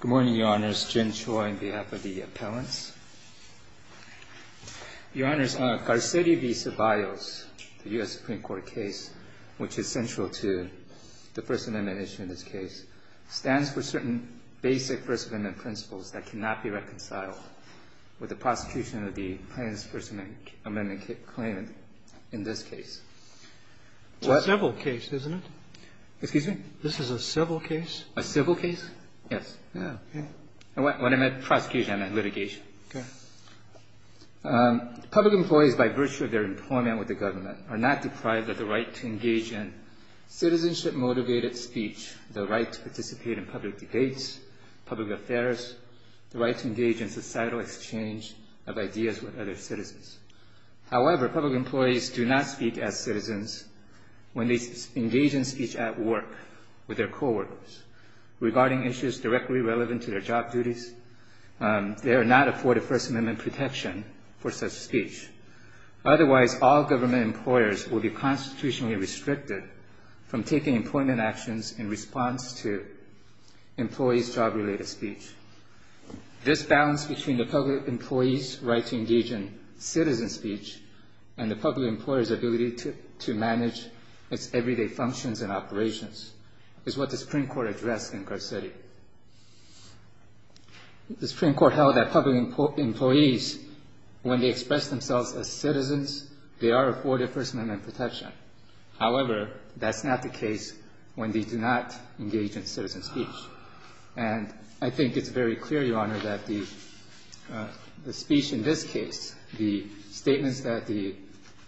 Good morning, Your Honors. Jim Choi on behalf of the appellants. Your Honors, Carceri v. Ceballos, the U.S. Supreme Court case, which is central to the First Amendment issue in this case, stands for certain basic First Amendment principles that cannot be reconciled with the prosecution of the plaintiff's First Amendment claimant in this case. It's a civil case, isn't it? Excuse me? This is a civil case? A civil case? Yes. Oh, okay. When I meant prosecution, I meant litigation. Okay. Public employees, by virtue of their employment with the government, are not deprived of the right to engage in citizenship-motivated speech, the right to participate in public debates, public affairs, the right to engage in societal exchange of ideas with other citizens. However, public employees do not speak as citizens when they engage in speech at work with their coworkers regarding issues directly relevant to their job duties. They are not afforded First Amendment protection for such speech. Otherwise, all government employers will be constitutionally restricted from taking employment actions in response to employees' job-related speech. This balance between the public employee's right to engage in citizen speech and the public employer's ability to manage its everyday functions and operations is what the Supreme Court addressed in Garcetti. The Supreme Court held that public employees, when they express themselves as citizens, they are afforded First Amendment protection. However, that's not the case when they do not engage in citizen speech. And I think it's very clear, Your Honor, that the speech in this case, the statements that the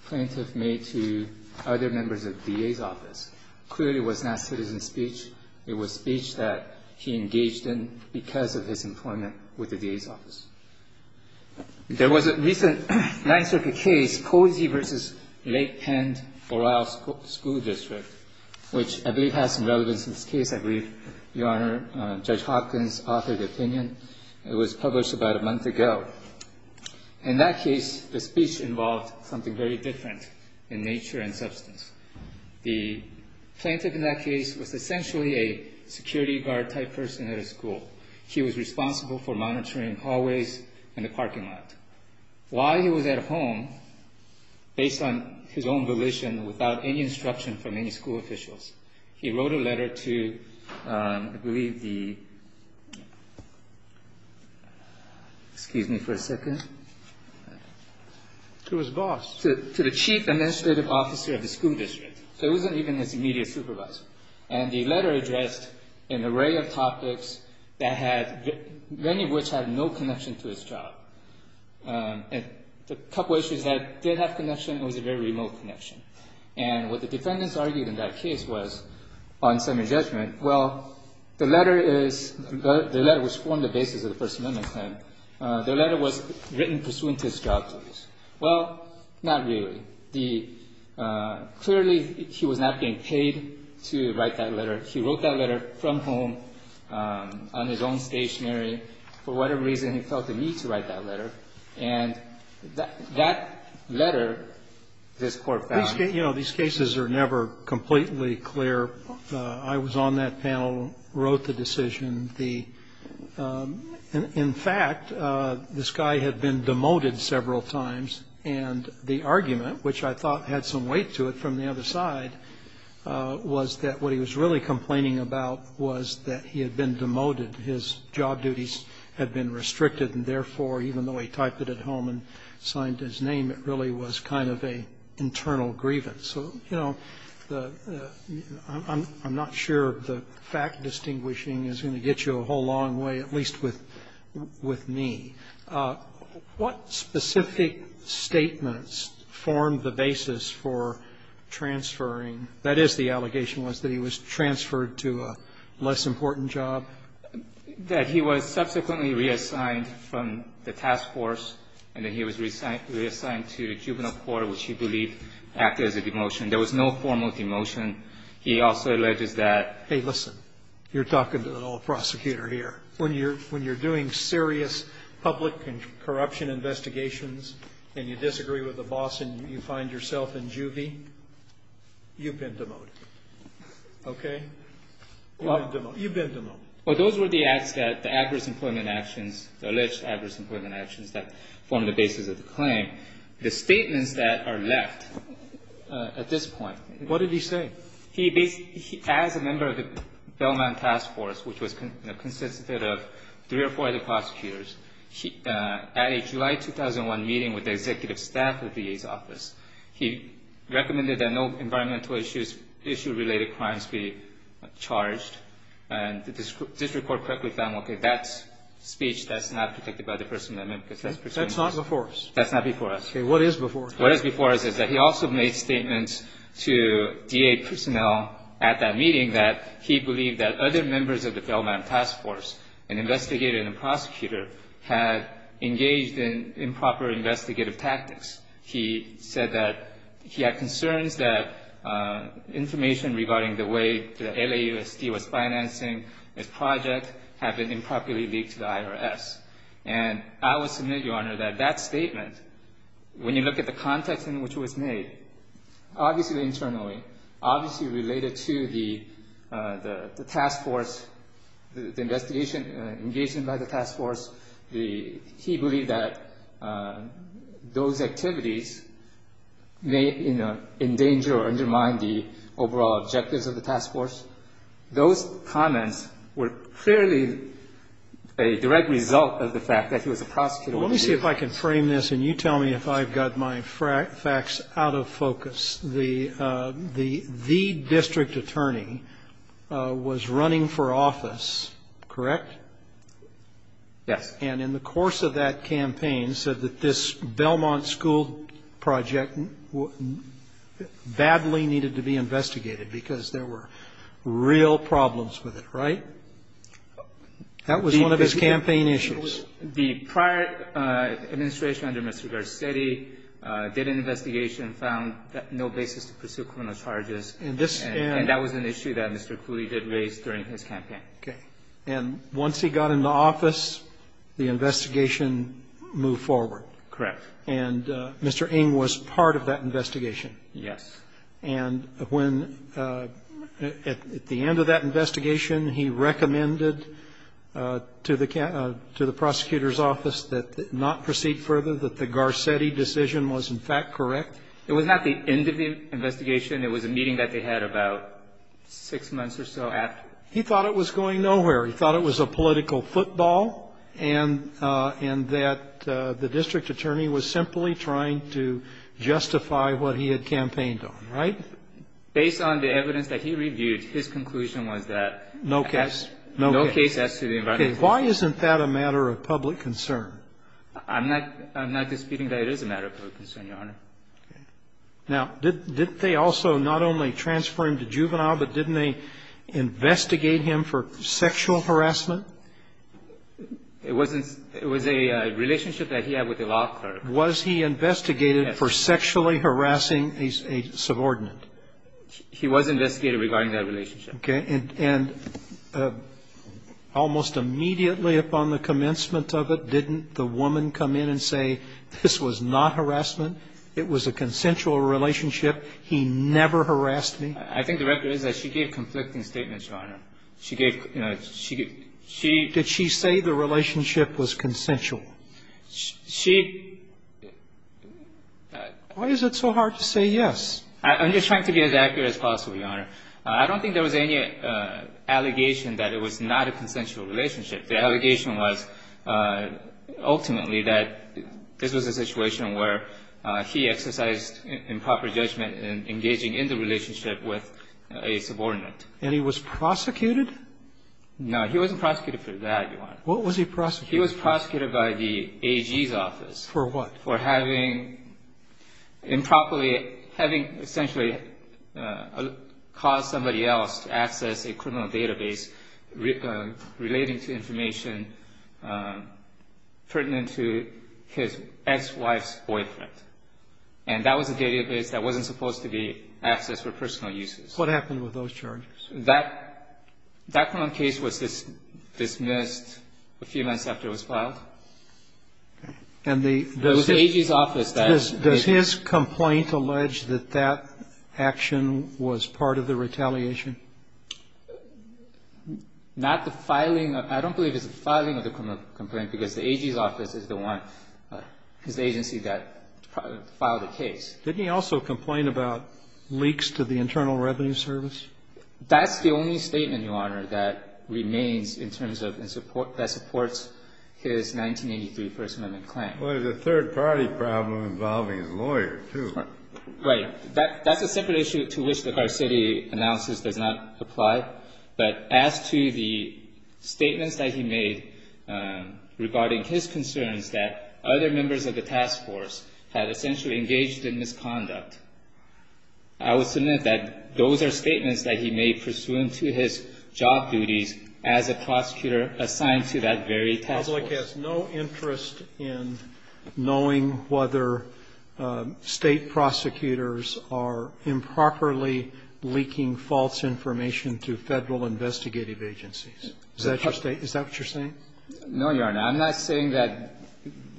plaintiff made to other members of the DA's office, clearly was not citizen speech. It was speech that he engaged in because of his employment with the DA's office. There was a recent Ninth Circuit case, Posey v. Lake Penn Borough School District, which I believe has some relevance in this case. I believe, Your Honor, Judge Hopkins authored the opinion. It was published about a month ago. In that case, the speech involved something very different in nature and substance. The plaintiff in that case was essentially a security guard-type person at a school. He was responsible for monitoring hallways and the parking lot. While he was at home, based on his own volition, without any instruction from any school officials, he wrote a letter to, I believe the – excuse me for a second. It was boss. To the chief administrative officer of the school district. So it wasn't even his immediate supervisor. And the letter addressed an array of topics that had – many of which had no connection to his job. A couple issues that did have connection, it was a very remote connection. And what the defendants argued in that case was, on semi-judgment, well, the letter is – the letter was formed on the basis of the First Amendment claim. The letter was written pursuant to his job duties. Well, not really. Clearly, he was not being paid to write that letter. He wrote that letter from home on his own stationery for whatever reason he felt the need to write that letter. And that letter, this Court found – These cases are never completely clear. I was on that panel, wrote the decision. In fact, this guy had been demoted several times. And the argument, which I thought had some weight to it from the other side, was that what he was really complaining about was that he had been demoted. His job duties had been restricted. And therefore, even though he typed it at home and signed his name, it really was kind of an internal grievance. So, you know, I'm not sure the fact-distinguishing is going to get you a whole long way, at least with me. What specific statements formed the basis for transferring – that is, the allegation was that he was transferred to a less important job? That he was subsequently reassigned from the task force, and that he was reassigned to the juvenile court, which he believed acted as a demotion. There was no formal demotion. He also alleges that – Hey, listen. You're talking to an old prosecutor here. When you're doing serious public corruption investigations, and you disagree with the boss, and you find yourself in juvie, you've been demoted. Okay? You've been demoted. Well, those were the acts that – the adverse employment actions, the alleged adverse employment actions that formed the basis of the claim. The statements that are left at this point – What did he say? He basically – as a member of the Belmont task force, which consisted of three or four other prosecutors, at a July 2001 meeting with the executive staff of the VA's office, he recommended that no environmental issues – issue-related crimes be charged. And the district court correctly found, okay, that speech, that's not protected by the First Amendment. That's not before us. That's not before us. Okay. What is before us? What is before us is that he also made statements to VA personnel at that meeting that he believed that other members of the Belmont task force, an investigator and a prosecutor, had engaged in improper investigative tactics. He said that he had concerns that information regarding the way the LAUSD was financing his project had been improperly leaked to the IRS. And I will submit, Your Honor, that that statement, when you look at the context in which it was made, obviously internally, obviously related to the task force, the investigation engaged in by the task force, he believed that those activities may endanger or undermine the overall objectives of the task force. Those comments were clearly a direct result of the fact that he was a prosecutor. Let me see if I can frame this, and you tell me if I've got my facts out of focus. The district attorney was running for office, correct? Yes. And in the course of that campaign said that this Belmont school project badly needed to be investigated because there were real problems with it, right? That was one of his campaign issues. The prior administration under Mr. Garcetti did an investigation and found no basis to pursue criminal charges. And that was an issue that Mr. Cooley did raise during his campaign. Okay. And once he got into office, the investigation moved forward? Correct. And Mr. Ng was part of that investigation? Yes. And when at the end of that investigation, he recommended to the prosecutor's office that not proceed further, that the Garcetti decision was in fact correct? It was not the end of the investigation. It was a meeting that they had about six months or so after. He thought it was going nowhere. He thought it was a political football and that the district attorney was simply trying to justify what he had campaigned on, right? Based on the evidence that he reviewed, his conclusion was that no case has to be investigated. Okay. Why isn't that a matter of public concern? I'm not disputing that it is a matter of public concern, Your Honor. Okay. Now, didn't they also not only transfer him to juvenile, but didn't they investigate him for sexual harassment? It was a relationship that he had with a law clerk. Was he investigated for sexually harassing a subordinate? He was investigated regarding that relationship. Okay. And almost immediately upon the commencement of it, didn't the woman come in and say, this was not harassment? It was a consensual relationship. He never harassed me? I think the record is that she gave conflicting statements, Your Honor. She gave, you know, she did she say the relationship was consensual? She why is it so hard to say yes? I'm just trying to be as accurate as possible, Your Honor. I don't think there was any allegation that it was not a consensual relationship. The allegation was ultimately that this was a situation where he exercised improper judgment in engaging in the relationship with a subordinate. And he was prosecuted? No. He wasn't prosecuted for that, Your Honor. What was he prosecuted for? He was prosecuted by the AG's office. For what? For having improperly, having essentially caused somebody else to access a criminal database relating to information pertinent to his ex-wife's boyfriend. And that was a database that wasn't supposed to be accessed for personal uses. What happened with those charges? That criminal case was dismissed a few months after it was filed. Okay. And the AG's office then? Does his complaint allege that that action was part of the retaliation? Not the filing. I don't believe it's the filing of the criminal complaint, because the AG's office is the one, is the agency that filed the case. Didn't he also complain about leaks to the Internal Revenue Service? That's the only statement, Your Honor, that remains in terms of and supports his 1983 First Amendment claim. Well, there's a third-party problem involving his lawyer, too. Right. Your Honor, that's a separate issue to which the Garcetti analysis does not apply. But as to the statements that he made regarding his concerns that other members of the task force had essentially engaged in misconduct, I would submit that those are statements that he made pursuant to his job duties as a prosecutor assigned to that very task force. But the public has no interest in knowing whether State prosecutors are improperly leaking false information to Federal investigative agencies. Is that your statement? Is that what you're saying? No, Your Honor. I'm not saying that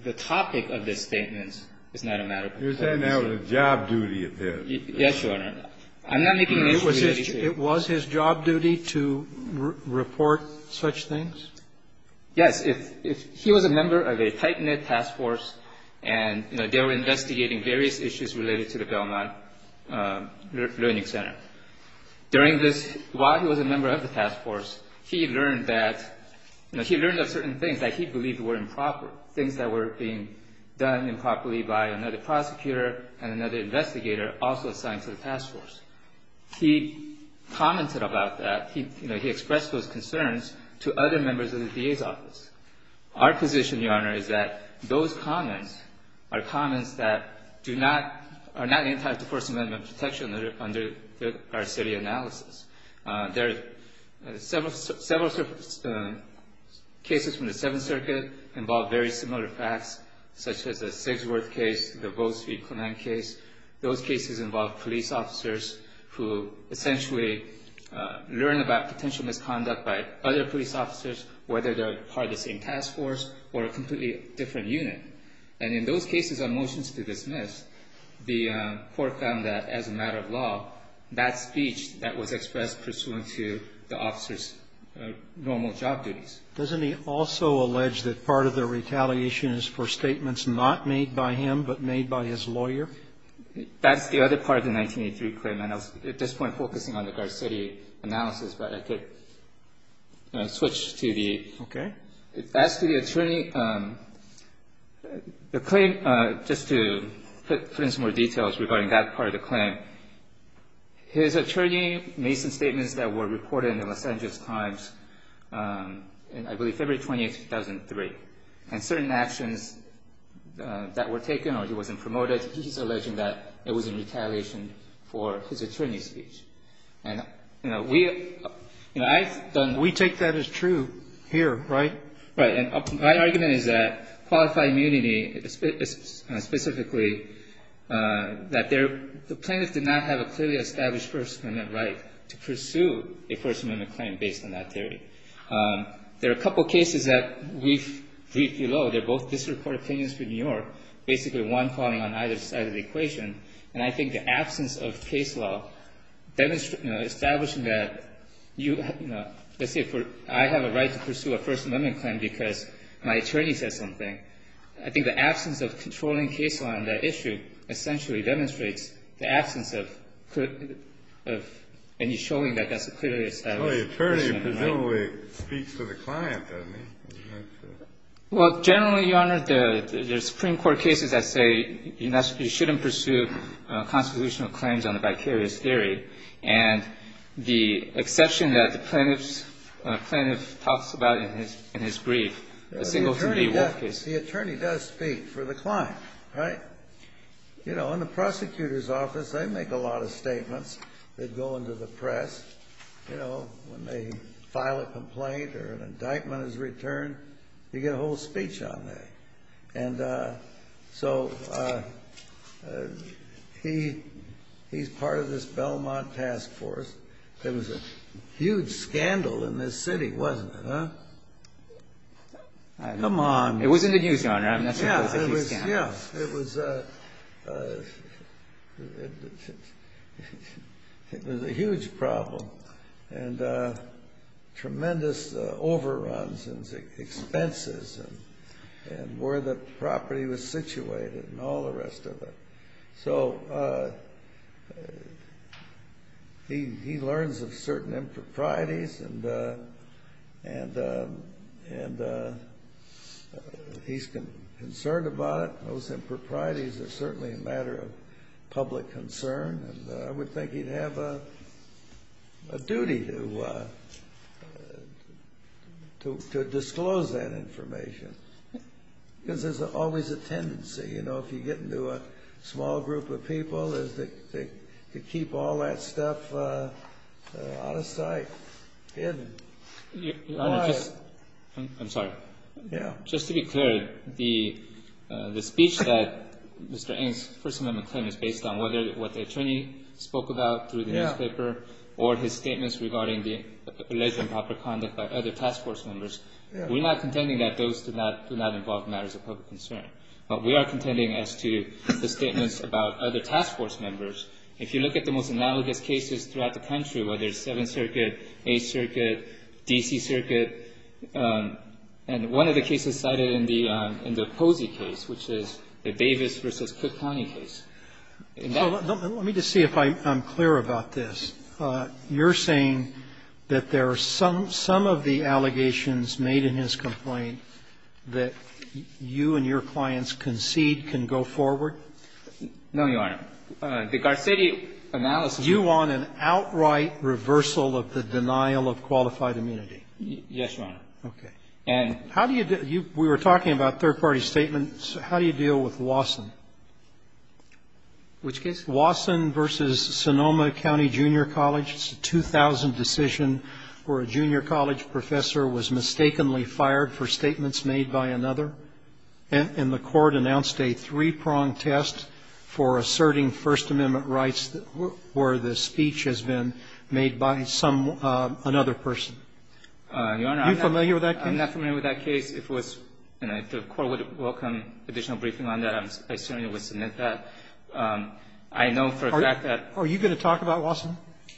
the topic of this statement is not a matter of performance. You're saying that was a job duty of his. Yes, Your Honor. I'm not making this a reality case. It was his job duty to report such things? Yes. He was a member of a tight-knit task force, and they were investigating various issues related to the Belmont Learning Center. During this while he was a member of the task force, he learned that certain things that he believed were improper, things that were being done improperly by another prosecutor and another investigator also assigned to the task force. He commented about that. He expressed those concerns to other members of the DA's office. Our position, Your Honor, is that those comments are comments that do not entitle to First Amendment protection under our city analysis. There are several cases from the Seventh Circuit involved very similar facts, such as the Sigsworth case, the Gold Street Clement case. Those cases involve police officers who essentially learn about potential misconduct by other police officers, whether they're part of the same task force or a completely different unit. And in those cases on motions to dismiss, the Court found that as a matter of law, that speech that was expressed pursuant to the officer's normal job duties. Doesn't he also allege that part of the retaliation is for statements not made by him but made by his lawyer? That's the other part of the 1983 claim. And I was at this point focusing on the guard city analysis, but I could switch to the Okay. As to the attorney, the claim, just to put in some more details regarding that part of the claim, his attorney made some statements that were reported in the Los Angeles Times in, I believe, February 20, 2003. And certain actions that were taken or he wasn't promoted, he's alleging that it was in retaliation for his attorney's speech. And, you know, we don't know. We take that as true here, right? Right. And my argument is that Qualified Immunity specifically, that the plaintiffs did not have a clearly established First Amendment right to pursue a First Amendment claim based on that theory. There are a couple cases that we've briefed below. They're both district court opinions for New York, basically one calling on either side of the equation. And I think the absence of case law, you know, establishing that, you know, let's say I have a right to pursue a First Amendment claim because my attorney said something. I think the absence of controlling case law on that issue essentially demonstrates the absence of any showing that that's a clearly established First Amendment right. Well, the attorney presumably speaks to the client, doesn't he? Well, generally, Your Honor, the Supreme Court cases that say you shouldn't pursue constitutional claims on a vicarious theory. And the exception that the plaintiff talks about in his brief, a single-family work case. The attorney does speak for the client, right? You know, in the prosecutor's office, they make a lot of statements that go into the press. You know, when they file a complaint or an indictment is returned, you get a whole speech on that. And so he's part of this Belmont task force. There was a huge scandal in this city, wasn't it, huh? Come on. It was in the news, Your Honor. Yeah, it was. It was a huge problem and tremendous overruns and expenses and where the property was situated and all the rest of it. So he learns of certain improprieties and he's concerned about it. Those improprieties are certainly a matter of public concern. And I would think he'd have a duty to disclose that information because there's always a tendency. You know, if you get into a small group of people, they keep all that stuff out of sight, hidden. Your Honor, just to be clear, the speech that Mr. Ng's First Amendment claim is based on what the attorney spoke about through the newspaper or his statements regarding the alleged improper conduct by other task force members, we're not contending that those do not involve matters of public concern. But we are contending as to the statements about other task force members. If you look at the most analogous cases throughout the country, whether it's Seventh Circuit, Eighth Circuit, D.C. Circuit, and one of the cases cited in the Posey case, which is the Davis v. Cook County case. Let me just see if I'm clear about this. You're saying that there are some of the allegations made in his complaint that you and your clients concede can go forward? No, Your Honor. The Garcetti analysis. You want an outright reversal of the denial of qualified immunity? Yes, Your Honor. Okay. And how do you do it? We were talking about third-party statements. How do you deal with Wasson? Which case? Wasson v. Sonoma County Junior College. It's a 2000 decision where a junior college professor was mistakenly fired for statements made by another, and the Court announced a three-pronged test for asserting First Amendment rights where the speech has been made by some other person. Your Honor, I'm not familiar with that case. I'm not familiar with that case. If the Court would welcome additional briefing on that, I certainly would submit that. I know for a fact that ---- Are you going to talk about Wasson?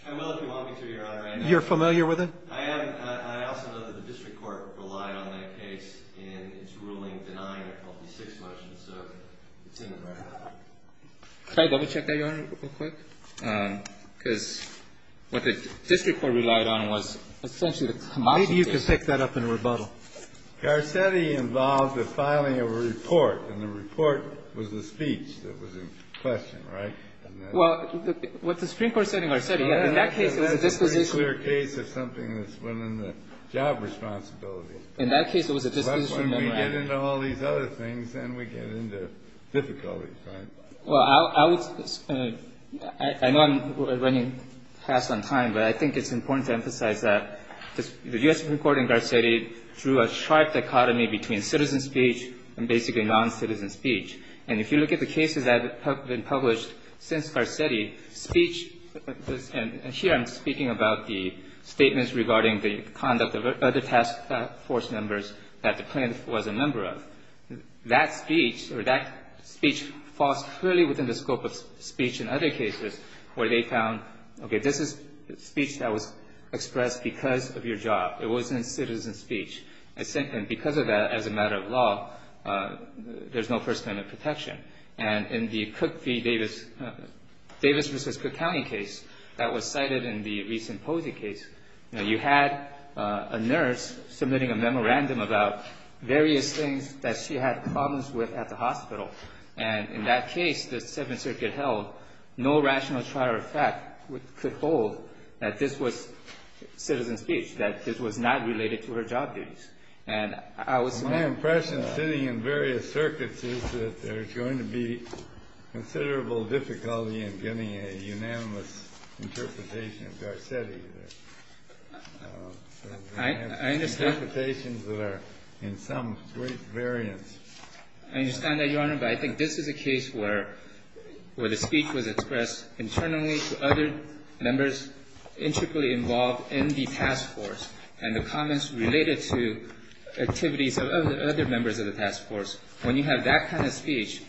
I will if you want me to, Your Honor. You're familiar with it? I am. I also know that the district court relied on that case in its ruling denying a Peltier 6 motion, so it's in the record. Can I double-check that, Your Honor, real quick? Because what the district court relied on was essentially the ---- Maybe you can take that up in rebuttal. Garcetti involved the filing of a report, and the report was the speech that was in question, right? Well, what the Supreme Court said in Garcetti, in that case it was a disposition memorandum. It's a clear case of something that's within the job responsibility. In that case, it was a disposition memorandum. Unless we get into all these other things, then we get into difficulties, right? Well, I would ---- I know I'm running past on time, but I think it's important to emphasize that the U.S. Supreme Court in Garcetti drew a sharp dichotomy between citizen speech and basically noncitizen speech. And if you look at the cases that have been published since Garcetti, speech ---- and here I'm speaking about the statements regarding the conduct of other task force members that the plaintiff was a member of. That speech or that speech falls clearly within the scope of speech in other cases where they found, okay, this is speech that was expressed because of your job. It wasn't citizen speech. And because of that, as a matter of law, there's no First Amendment protection. And in the Cook v. Davis, Davis v. Cook County case that was cited in the recent Posey case, you had a nurse submitting a memorandum about various things that she had problems with at the hospital. And in that case, the Seventh Circuit held, no rational trial of fact could hold that this was citizen speech, that this was not related to her job duties. And I was ---- The impression sitting in various circuits is that there's going to be considerable difficulty in getting a unanimous interpretation of Garcetti. I understand. Interpretations that are in some great variance. I understand that, Your Honor. But I think this is a case where the speech was expressed internally to other members intricately involved in the task force and the comments related to activities of other members of the task force. When you have that kind of speech,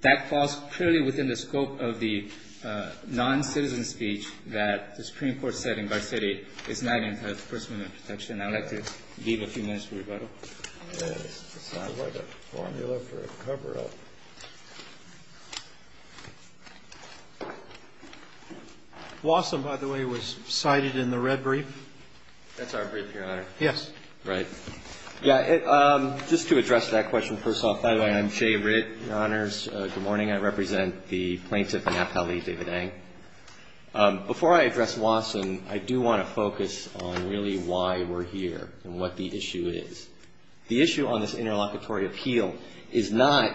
that falls purely within the scope of the non-citizen speech that the Supreme Court said in Garcetti is not in First Amendment protection. I would like to give a few minutes for rebuttal. It's not like a formula for a cover-up. Wasson, by the way, was cited in the red brief. That's our brief, Your Honor. Yes. Right. Yeah. Just to address that question first off, by the way, I'm Shea Ridd, Your Honors. Good morning. I represent the Plaintiff Napali David Eng. Before I address Wasson, I do want to focus on really why we're here and what the issue is. The issue on this interlocutory appeal is not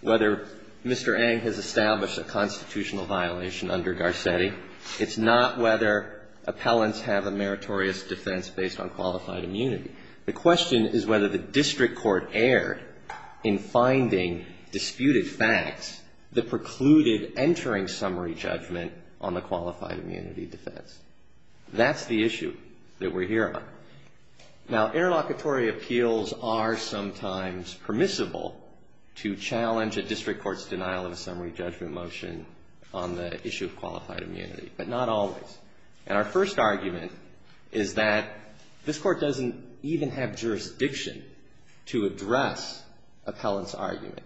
whether Mr. Eng has established a constitutional violation under Garcetti. It's not whether appellants have a meritorious defense based on qualified immunity. The question is whether the district court erred in finding disputed facts that precluded entering summary judgment on the qualified immunity defense. That's the issue that we're here on. Now, interlocutory appeals are sometimes permissible to challenge a district court's denial of a summary judgment motion on the issue of qualified immunity, but not always. And our first argument is that this Court doesn't even have jurisdiction to address that appellant's argument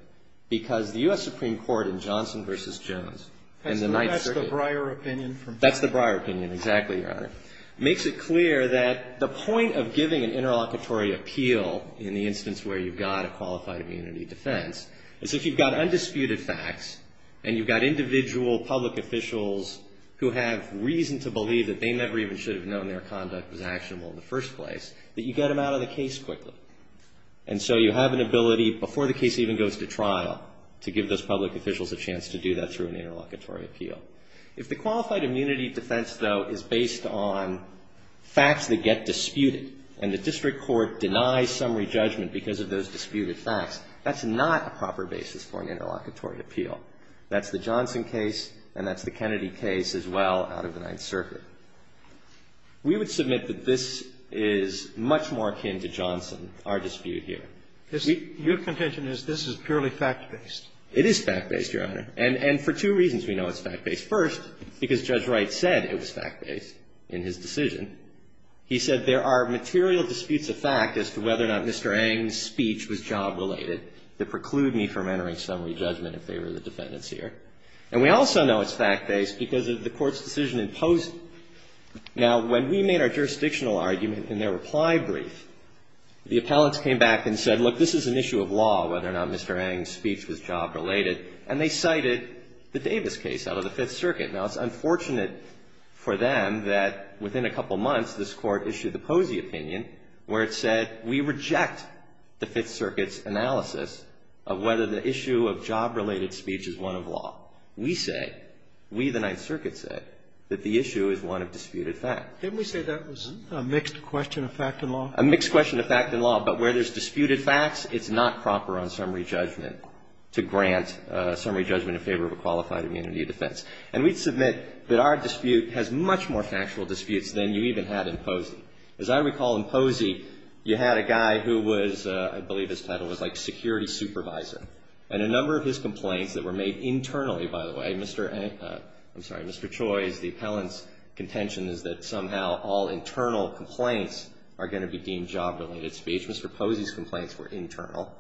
because the U.S. Supreme Court in Johnson v. Jones in the ninth circuit. That's the Breyer opinion from Johnson. That's the Breyer opinion, exactly, Your Honor. It makes it clear that the point of giving an interlocutory appeal in the instance where you've got a qualified immunity defense is if you've got undisputed facts and you've got individual public officials who have reason to believe that they never even should have known their conduct was actionable in the first place, that you get them out of the case quickly. And so you have an ability before the case even goes to trial to give those public officials a chance to do that through an interlocutory appeal. If the qualified immunity defense, though, is based on facts that get disputed and the district court denies summary judgment because of those disputed facts, that's not a proper basis for an interlocutory appeal. That's the Johnson case and that's the Kennedy case as well out of the ninth circuit. We would submit that this is much more akin to Johnson, our dispute here. We – Your contention is this is purely fact-based. It is fact-based, Your Honor. And for two reasons we know it's fact-based. First, because Judge Wright said it was fact-based in his decision. He said there are material disputes of fact as to whether or not Mr. Eng's speech was job-related that preclude me from entering summary judgment in favor of the defendants And we also know it's fact-based because of the Court's decision in Posey. Now, when we made our jurisdictional argument in their reply brief, the appellants came back and said, look, this is an issue of law, whether or not Mr. Eng's speech was job-related, and they cited the Davis case out of the Fifth Circuit. Now, it's unfortunate for them that within a couple months this Court issued the Posey opinion where it said we reject the Fifth Circuit's analysis of whether the issue of job-related speech is one of law. We say, we the Ninth Circuit say, that the issue is one of disputed fact. Didn't we say that was a mixed question of fact and law? A mixed question of fact and law, but where there's disputed facts, it's not proper on summary judgment to grant summary judgment in favor of a qualified immunity defense. And we submit that our dispute has much more factual disputes than you even had in Posey. As I recall in Posey, you had a guy who was, I believe his title was like security supervisor. And a number of his complaints that were made internally, by the way, Mr. Eng – I'm sorry, Mr. Choi's, the appellant's contention is that somehow all internal complaints are going to be deemed job-related speech. Mr. Posey's complaints were internal.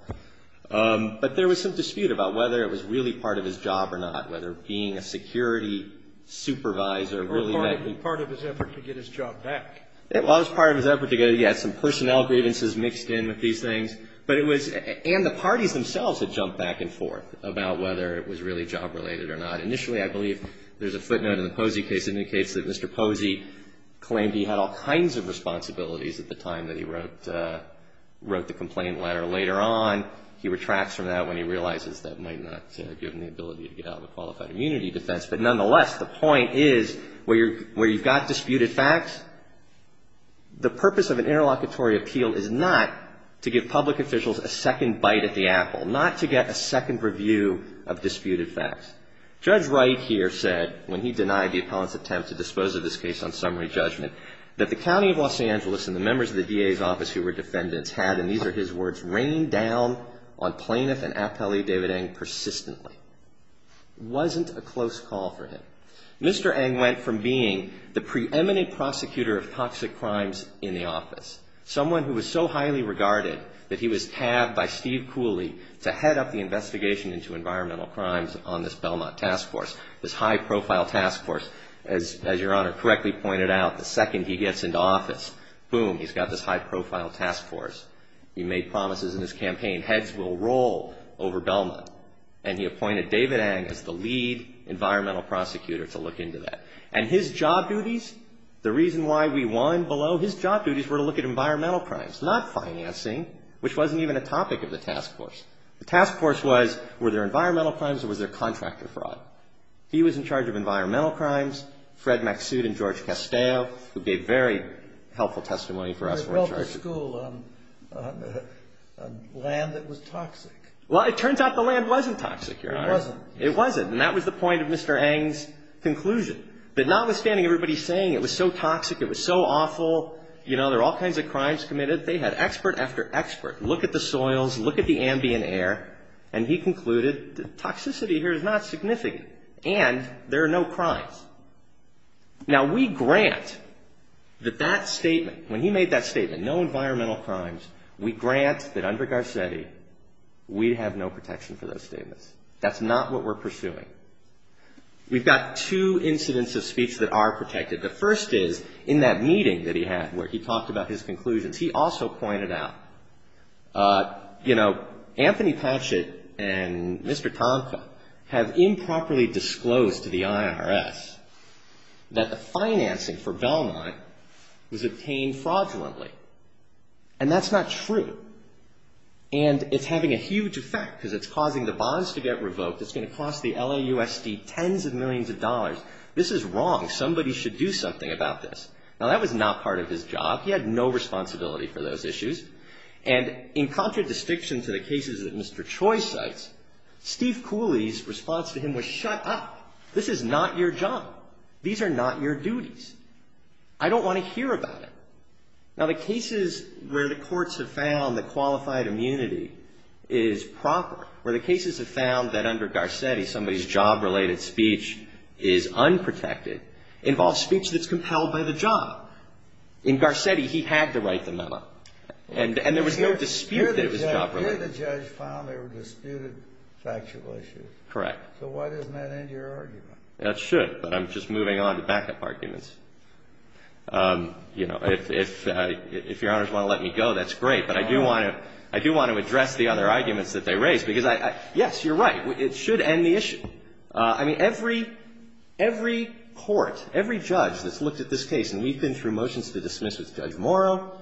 But there was some dispute about whether it was really part of his job or not, whether being a security supervisor really meant he was part of his effort to get his job back. It was part of his effort to get his job back. He had some personnel grievances mixed in with these things. But it was – and the parties themselves had jumped back and forth about whether it was really job-related or not. Initially, I believe there's a footnote in the Posey case indicates that Mr. Posey claimed he had all kinds of responsibilities at the time that he wrote the complaint letter. Later on, he retracts from that when he realizes that might not give him the ability to get out of a qualified immunity defense. But nonetheless, the point is where you've got disputed facts, the purpose of an interlocutory appeal is not to give public officials a second bite at the apple, not to get a second review of disputed facts. Judge Wright here said, when he denied the appellant's attempt to dispose of this case on summary judgment, that the county of Los Angeles and the members of the DA's office who were defendants had – and these are his words – rained down on plaintiff and appellee David Eng persistently. It wasn't a close call for him. Mr. Eng went from being the preeminent prosecutor of toxic crimes in the office. Someone who was so highly regarded that he was tabbed by Steve Cooley to head up the investigation into environmental crimes on this Belmont task force, this high-profile task force. As Your Honor correctly pointed out, the second he gets into office, boom, he's got this high-profile task force. He made promises in his campaign, heads will roll over Belmont. And he appointed David Eng as the lead environmental prosecutor to look into that. And his job duties, the reason why we won below, his job duties were to look at environmental crimes, not financing, which wasn't even a topic of the task force. The task force was, were there environmental crimes or was there contractor fraud? He was in charge of environmental crimes. Fred Maksud and George Castell, who gave very helpful testimony for us, were in charge. He built a school on land that was toxic. Well, it turns out the land wasn't toxic, Your Honor. It wasn't. And that was the point of Mr. Eng's conclusion. But notwithstanding everybody saying it was so toxic, it was so awful, you know, there are all kinds of crimes committed, they had expert after expert look at the soils, look at the ambient air, and he concluded that toxicity here is not significant and there are no crimes. Now, we grant that that statement, when he made that statement, no environmental crimes, we grant that under Garcetti, we have no protection for those statements. That's not what we're pursuing. We've got two incidents of speech that are protected. The first is in that meeting that he had where he talked about his conclusions. He also pointed out, you know, Anthony Patchett and Mr. Tomka have improperly disclosed to the IRS that the financing for Belmont was obtained fraudulently. And that's not true. And it's having a huge effect because it's causing the bonds to get revoked. It's going to cost the LAUSD tens of millions of dollars. This is wrong. Somebody should do something about this. Now, that was not part of his job. He had no responsibility for those issues. And in contradistinction to the cases that Mr. Choi cites, Steve Cooley's response to him was shut up. This is not your job. These are not your duties. I don't want to hear about it. Now, the cases where the courts have found that qualified immunity is proper, where the cases have found that under Garcetti, somebody's job-related speech is unprotected, involves speech that's compelled by the job. In Garcetti, he had to write the memo. And there was no dispute that it was job-related. Here the judge found there were disputed factual issues. Correct. So why doesn't that end your argument? It should. But I'm just moving on to backup arguments. You know, if Your Honors want to let me go, that's great. But I do want to address the other arguments that they raised. Because, yes, you're right. It should end the issue. I mean, every court, every judge that's looked at this case, and we've been through motions to dismiss with Judge Morrow,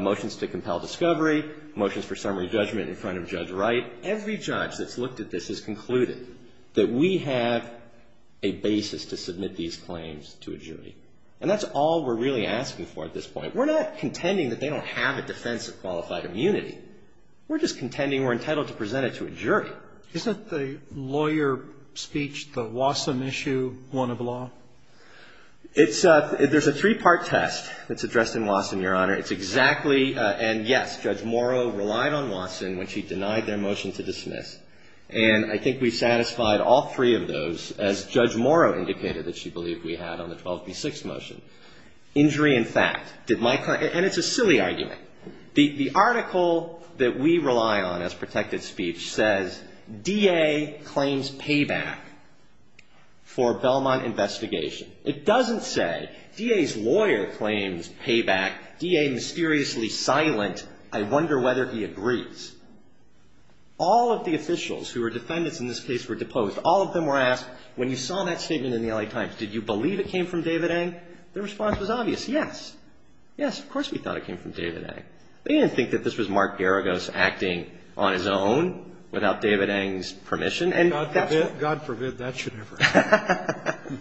motions to compel discovery, motions for summary judgment in front of Judge Wright. Every judge that's looked at this has concluded that we have a basis to submit these claims to a jury. And that's all we're really asking for at this point. We're not contending that they don't have a defense of qualified immunity. We're just contending we're entitled to present it to a jury. Isn't the lawyer speech, the Wasson issue, one of the law? It's a, there's a three-part test that's addressed in Wasson, Your Honor. It's exactly, and yes, Judge Morrow relied on Wasson when she denied their motion to dismiss. And I think we satisfied all three of those, as Judge Morrow indicated that she believed we had on the 12b6 motion. Injury in fact, did my client, and it's a silly argument. The article that we rely on as protected speech says DA claims payback for Belmont investigation. It doesn't say DA's lawyer claims payback, DA mysteriously silent, I wonder whether he agrees. All of the officials who are defendants in this case were deposed. All of them were asked, when you saw that statement in the L.A. Times, did you believe it came from David Eng? Their response was obvious, yes. Yes, of course we thought it came from David Eng. They didn't think that this was Mark Garagos acting on his own without David Eng's permission. God forbid that should ever happen.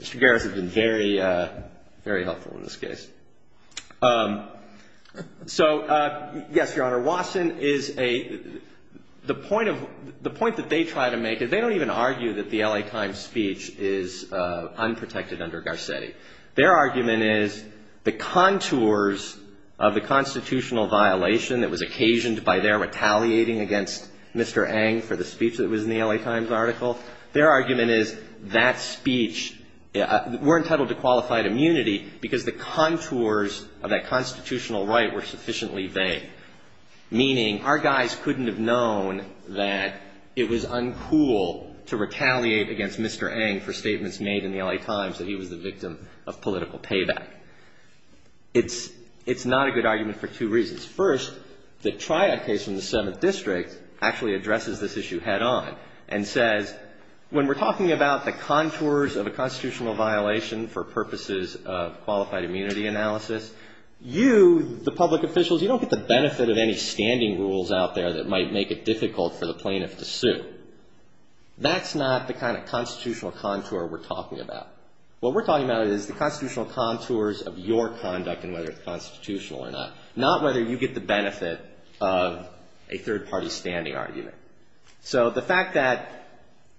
Mr. Garagos has been very, very helpful in this case. So, yes, Your Honor, Wasson is a, the point of, the point that they try to make is they don't even argue that the L.A. Times speech is unprotected under Garcetti. Their argument is the contours of the constitutional violation that was occasioned by their retaliating against Mr. Eng for the speech that was in the L.A. Times article. Their argument is that speech, we're entitled to qualified immunity because the contours of that constitutional right were sufficiently vague, meaning our guys couldn't have known that it was uncool to retaliate against Mr. Eng for statements made in the L.A. Times that he was the victim of political payback. It's, it's not a good argument for two reasons. First, the triad case in the Seventh District actually addresses this issue head on and says when we're talking about the contours of a constitutional violation for purposes of qualified immunity analysis, you, the public officials, you don't get the benefit of any standing rules out there that might make it difficult for the plaintiff to sue. That's not the kind of constitutional contour we're talking about. What we're talking about is the constitutional contours of your conduct and whether it's constitutional or not. Not whether you get the benefit of a third-party standing argument. So the fact that,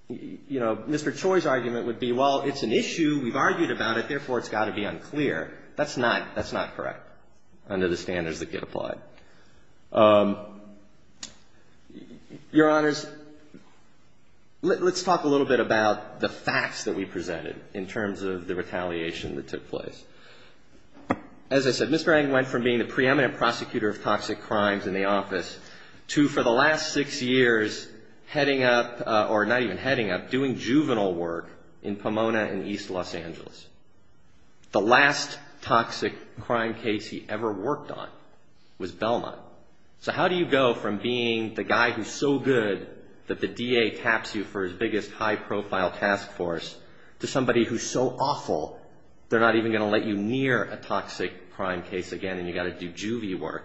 you know, Mr. Choi's argument would be, well, it's an issue. We've argued about it. Therefore, it's got to be unclear. That's not, that's not correct under the standards that get applied. Your Honors, let's talk a little bit about the facts that we presented in terms of the retaliation that took place. As I said, Mr. Eng went from being the preeminent prosecutor of toxic crimes in the office to, for the last six years, heading up, or not even heading up, doing juvenile work in Pomona and East Los Angeles. The last toxic crime case he ever worked on was Belmont. So how do you go from being the guy who's so good that the DA taps you for his biggest high-profile task force to somebody who's so good that you near a toxic crime case again and you've got to do juvie work?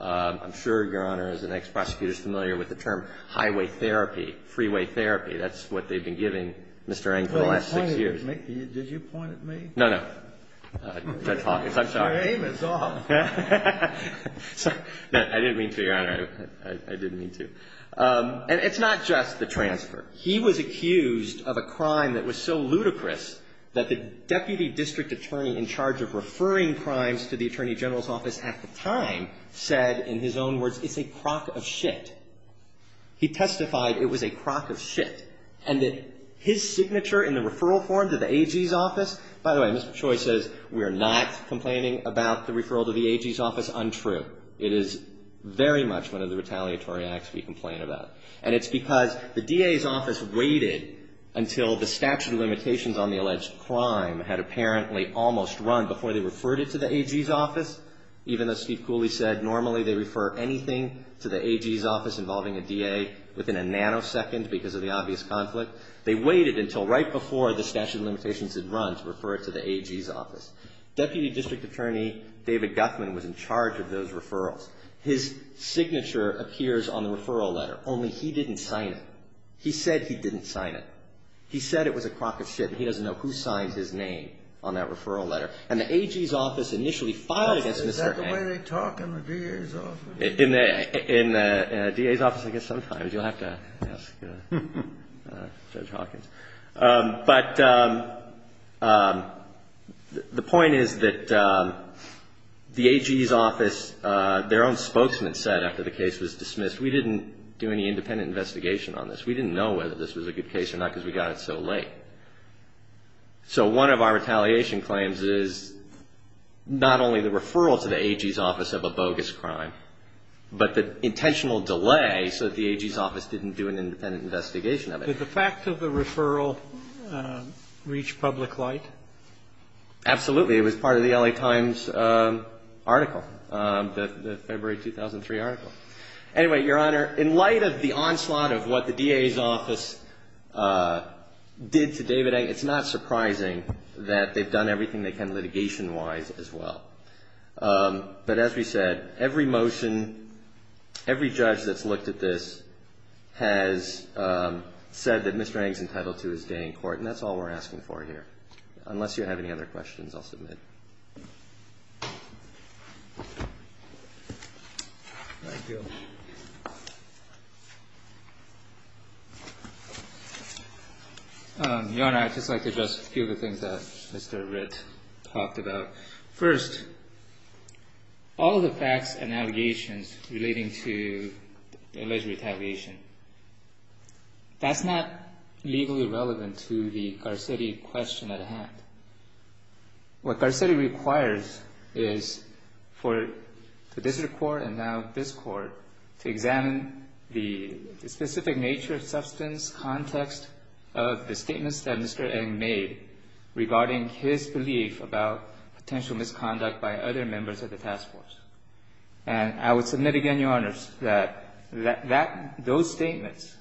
I'm sure, Your Honor, as an ex-prosecutor is familiar with the term highway therapy, freeway therapy. That's what they've been giving Mr. Eng for the last six years. Did you point at me? No, no. Judge Hawkins, I'm sorry. Your aim is off. I didn't mean to, Your Honor. I didn't mean to. And it's not just the transfer. He was accused of a crime that was so ludicrous that the deputy district attorney in charge of referring crimes to the Attorney General's office at the time said, in his own words, it's a crock of shit. He testified it was a crock of shit and that his signature in the referral form to the AG's office, by the way, Mr. Choi says we are not complaining about the referral to the AG's office untrue. It is very much one of the retaliatory acts we complain about. And it's because the DA's office waited until the statute of limitations on the alleged crime had apparently almost run before they referred it to the AG's office, even though Steve Cooley said normally they refer anything to the AG's office involving a DA within a nanosecond because of the obvious conflict. They waited until right before the statute of limitations had run to refer it to the AG's office. Deputy District Attorney David Guthman was in charge of those referrals. His signature appears on the referral letter, only he didn't sign it. He said he didn't sign it. He said it was a crock of shit and he doesn't know who signs his name on that referral letter. And the AG's office initially filed against Mr. Eng. The way they talk in the DA's office. In the DA's office, I guess sometimes you'll have to ask Judge Hawkins. But the point is that the AG's office, their own spokesman said after the case was dismissed, we didn't do any independent investigation on this. We didn't know whether this was a good case or not because we got it so late. So one of our retaliation claims is not only the referral to the AG's office of a bogus crime, but the intentional delay so that the AG's office didn't do an independent investigation of it. Did the fact of the referral reach public light? Absolutely. It was part of the L.A. Times article, the February 2003 article. Anyway, Your Honor, in light of the onslaught of what the DA's office did to David Eng, it's not surprising that they've done everything they can litigation-wise as well. But as we said, every motion, every judge that's looked at this has said that Mr. Eng's entitled to his day in court. And that's all we're asking for here. Unless you have any other questions, I'll submit. Thank you. Your Honor, I'd just like to address a few of the things that Mr. Ritt talked about. First, all of the facts and allegations relating to alleged retaliation. That's not legally relevant to the Garcetti question at hand. What Garcetti requires is for the district court and now this Court to examine the specific nature, substance, context of the statements that Mr. Eng made regarding his belief about potential misconduct by other members of the task force. And I would submit again, Your Honors, that those statements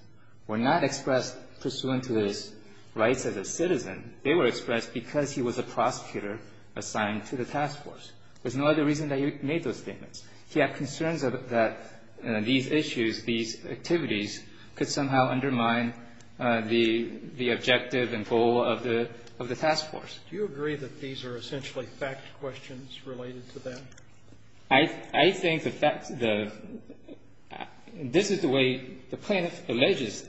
were not expressed pursuant to his rights as a citizen. They were expressed because he was a prosecutor assigned to the task force. There's no other reason that he made those statements. He had concerns that these issues, these activities could somehow undermine the objective and goal of the task force. Do you agree that these are essentially fact questions related to them? I think the fact, this is the way the plaintiff alleges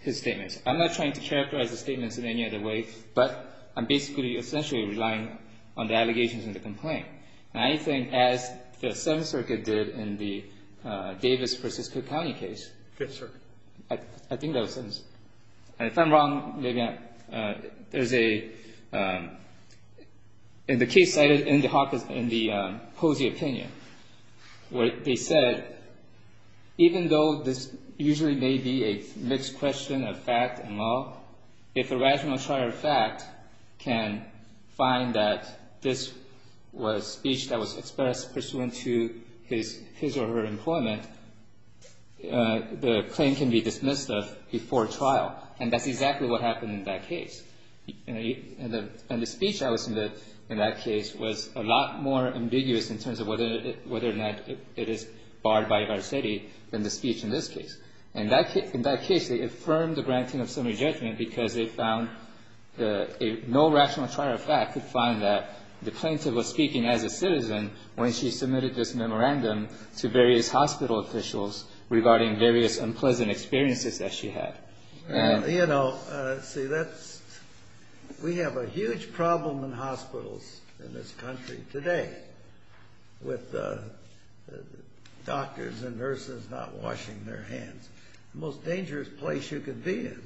his statements. I'm not trying to characterize the statements in any other way, but I'm basically, essentially relying on the allegations in the complaint. And I think as the Seventh Circuit did in the Davis v. Cook County case. Fifth Circuit. I think that was it. And if I'm wrong, maybe I, there's a, in the case cited in the Hawkins, in the Posey opinion, where they said, even though this usually may be a mixed question of fact and law, if a rational trial of fact can find that this was speech that was expressed pursuant to his or her employment, the claim can be dismissed before trial. And that's exactly what happened in that case. And the speech I listened to in that case was a lot more ambiguous in terms of whether or not it is barred by varsity than the speech in this case. In that case, they affirmed the granting of summary judgment because they found no rational trial of fact could find that the plaintiff was speaking as a citizen when she submitted this memorandum to various hospital officials regarding various unpleasant experiences that she had. You know, see, that's, we have a huge problem in hospitals in this country today with doctors and nurses not washing their hands. The most dangerous place you could be in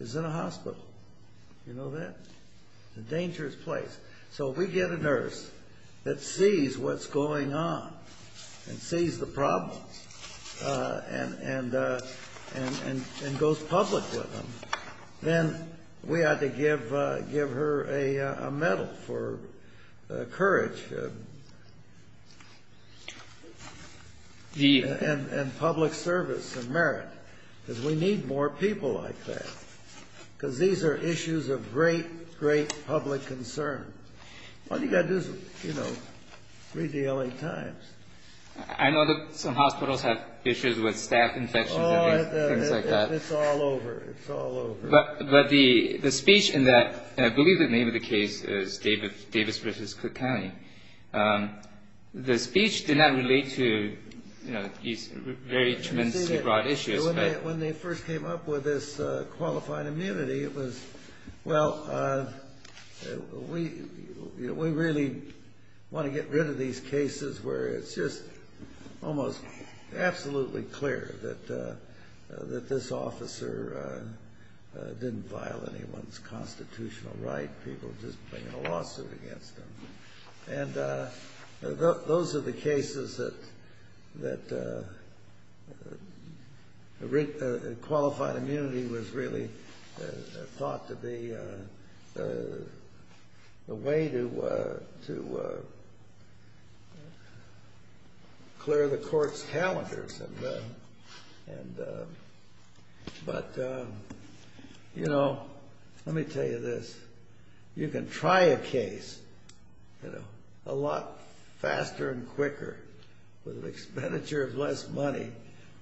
is in a hospital. You know that? A dangerous place. So if we get a nurse that sees what's going on and sees the problems and goes public with them, then we ought to give her a medal for courage and public service and merit because we need more people like that because these are issues of great, great public concern. All you got to do is, you know, read the L.A. Times. I know that some hospitals have issues with staff infections and things like that. It's all over. It's all over. But the speech in that, I believe the name of the case is Davis v. Cook County. The speech did not relate to, you know, these very tremendously broad issues. When they first came up with this qualifying immunity, it was, well, we really want to get rid of these cases where it's just almost absolutely clear that this officer didn't violate anyone's constitutional right. People are just bringing a lawsuit against them. And those are the cases that qualified immunity was really thought to be a way to clear the court's calendars. But, you know, let me tell you this. You can try a case a lot faster and quicker with an expenditure of less money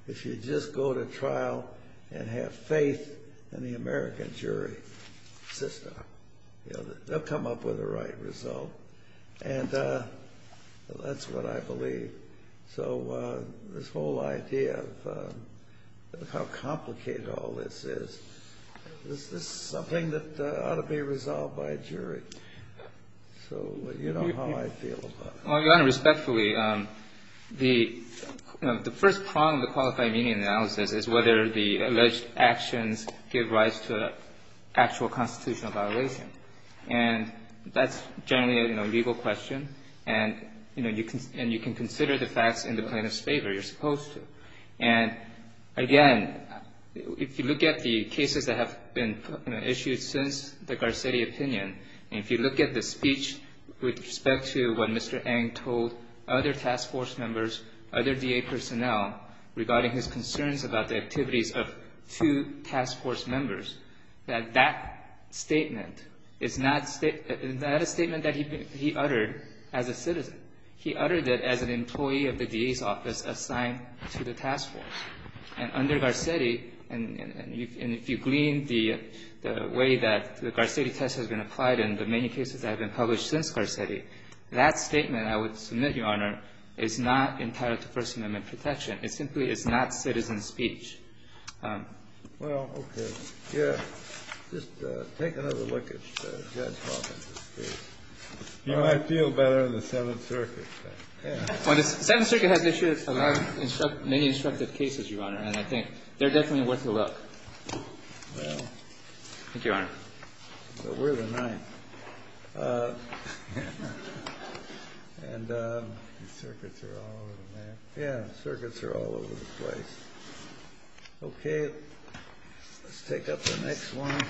if you just go to trial and have faith in the American jury system. They'll come up with the right result. And that's what I believe. So this whole idea of how complicated all this is, this is something that ought to be resolved by a jury. So you know how I feel about it. Well, Your Honor, respectfully, the first prong of the qualifying immunity analysis is whether the alleged actions give rise to actual constitutional violation. And that's generally a legal question. And, you know, you can consider the facts in the plaintiff's favor. You're supposed to. And, again, if you look at the cases that have been issued since the Garcetti opinion, and if you look at the speech with respect to what Mr. Eng told other task force members, other DA personnel regarding his concerns about the activities of two task force members, that that statement is not a statement that he uttered as a citizen. He uttered it as an employee of the DA's office assigned to the task force. And under Garcetti, and if you glean the way that the Garcetti test has been applied in the many cases that have been published since Garcetti, that statement, I would submit, Your Honor, is not entitled to First Amendment protection. It simply is not citizen speech. Well, okay. Yeah. Just take another look at Judge Hawkins' case. You might feel better in the Seventh Circuit. The Seventh Circuit has issued many instructive cases, Your Honor, and I think they're definitely worth a look. Well. Thank you, Your Honor. But we're the ninth. And the circuits are all over the place. Yeah, circuits are all over the place. Okay. Let's take up the next one.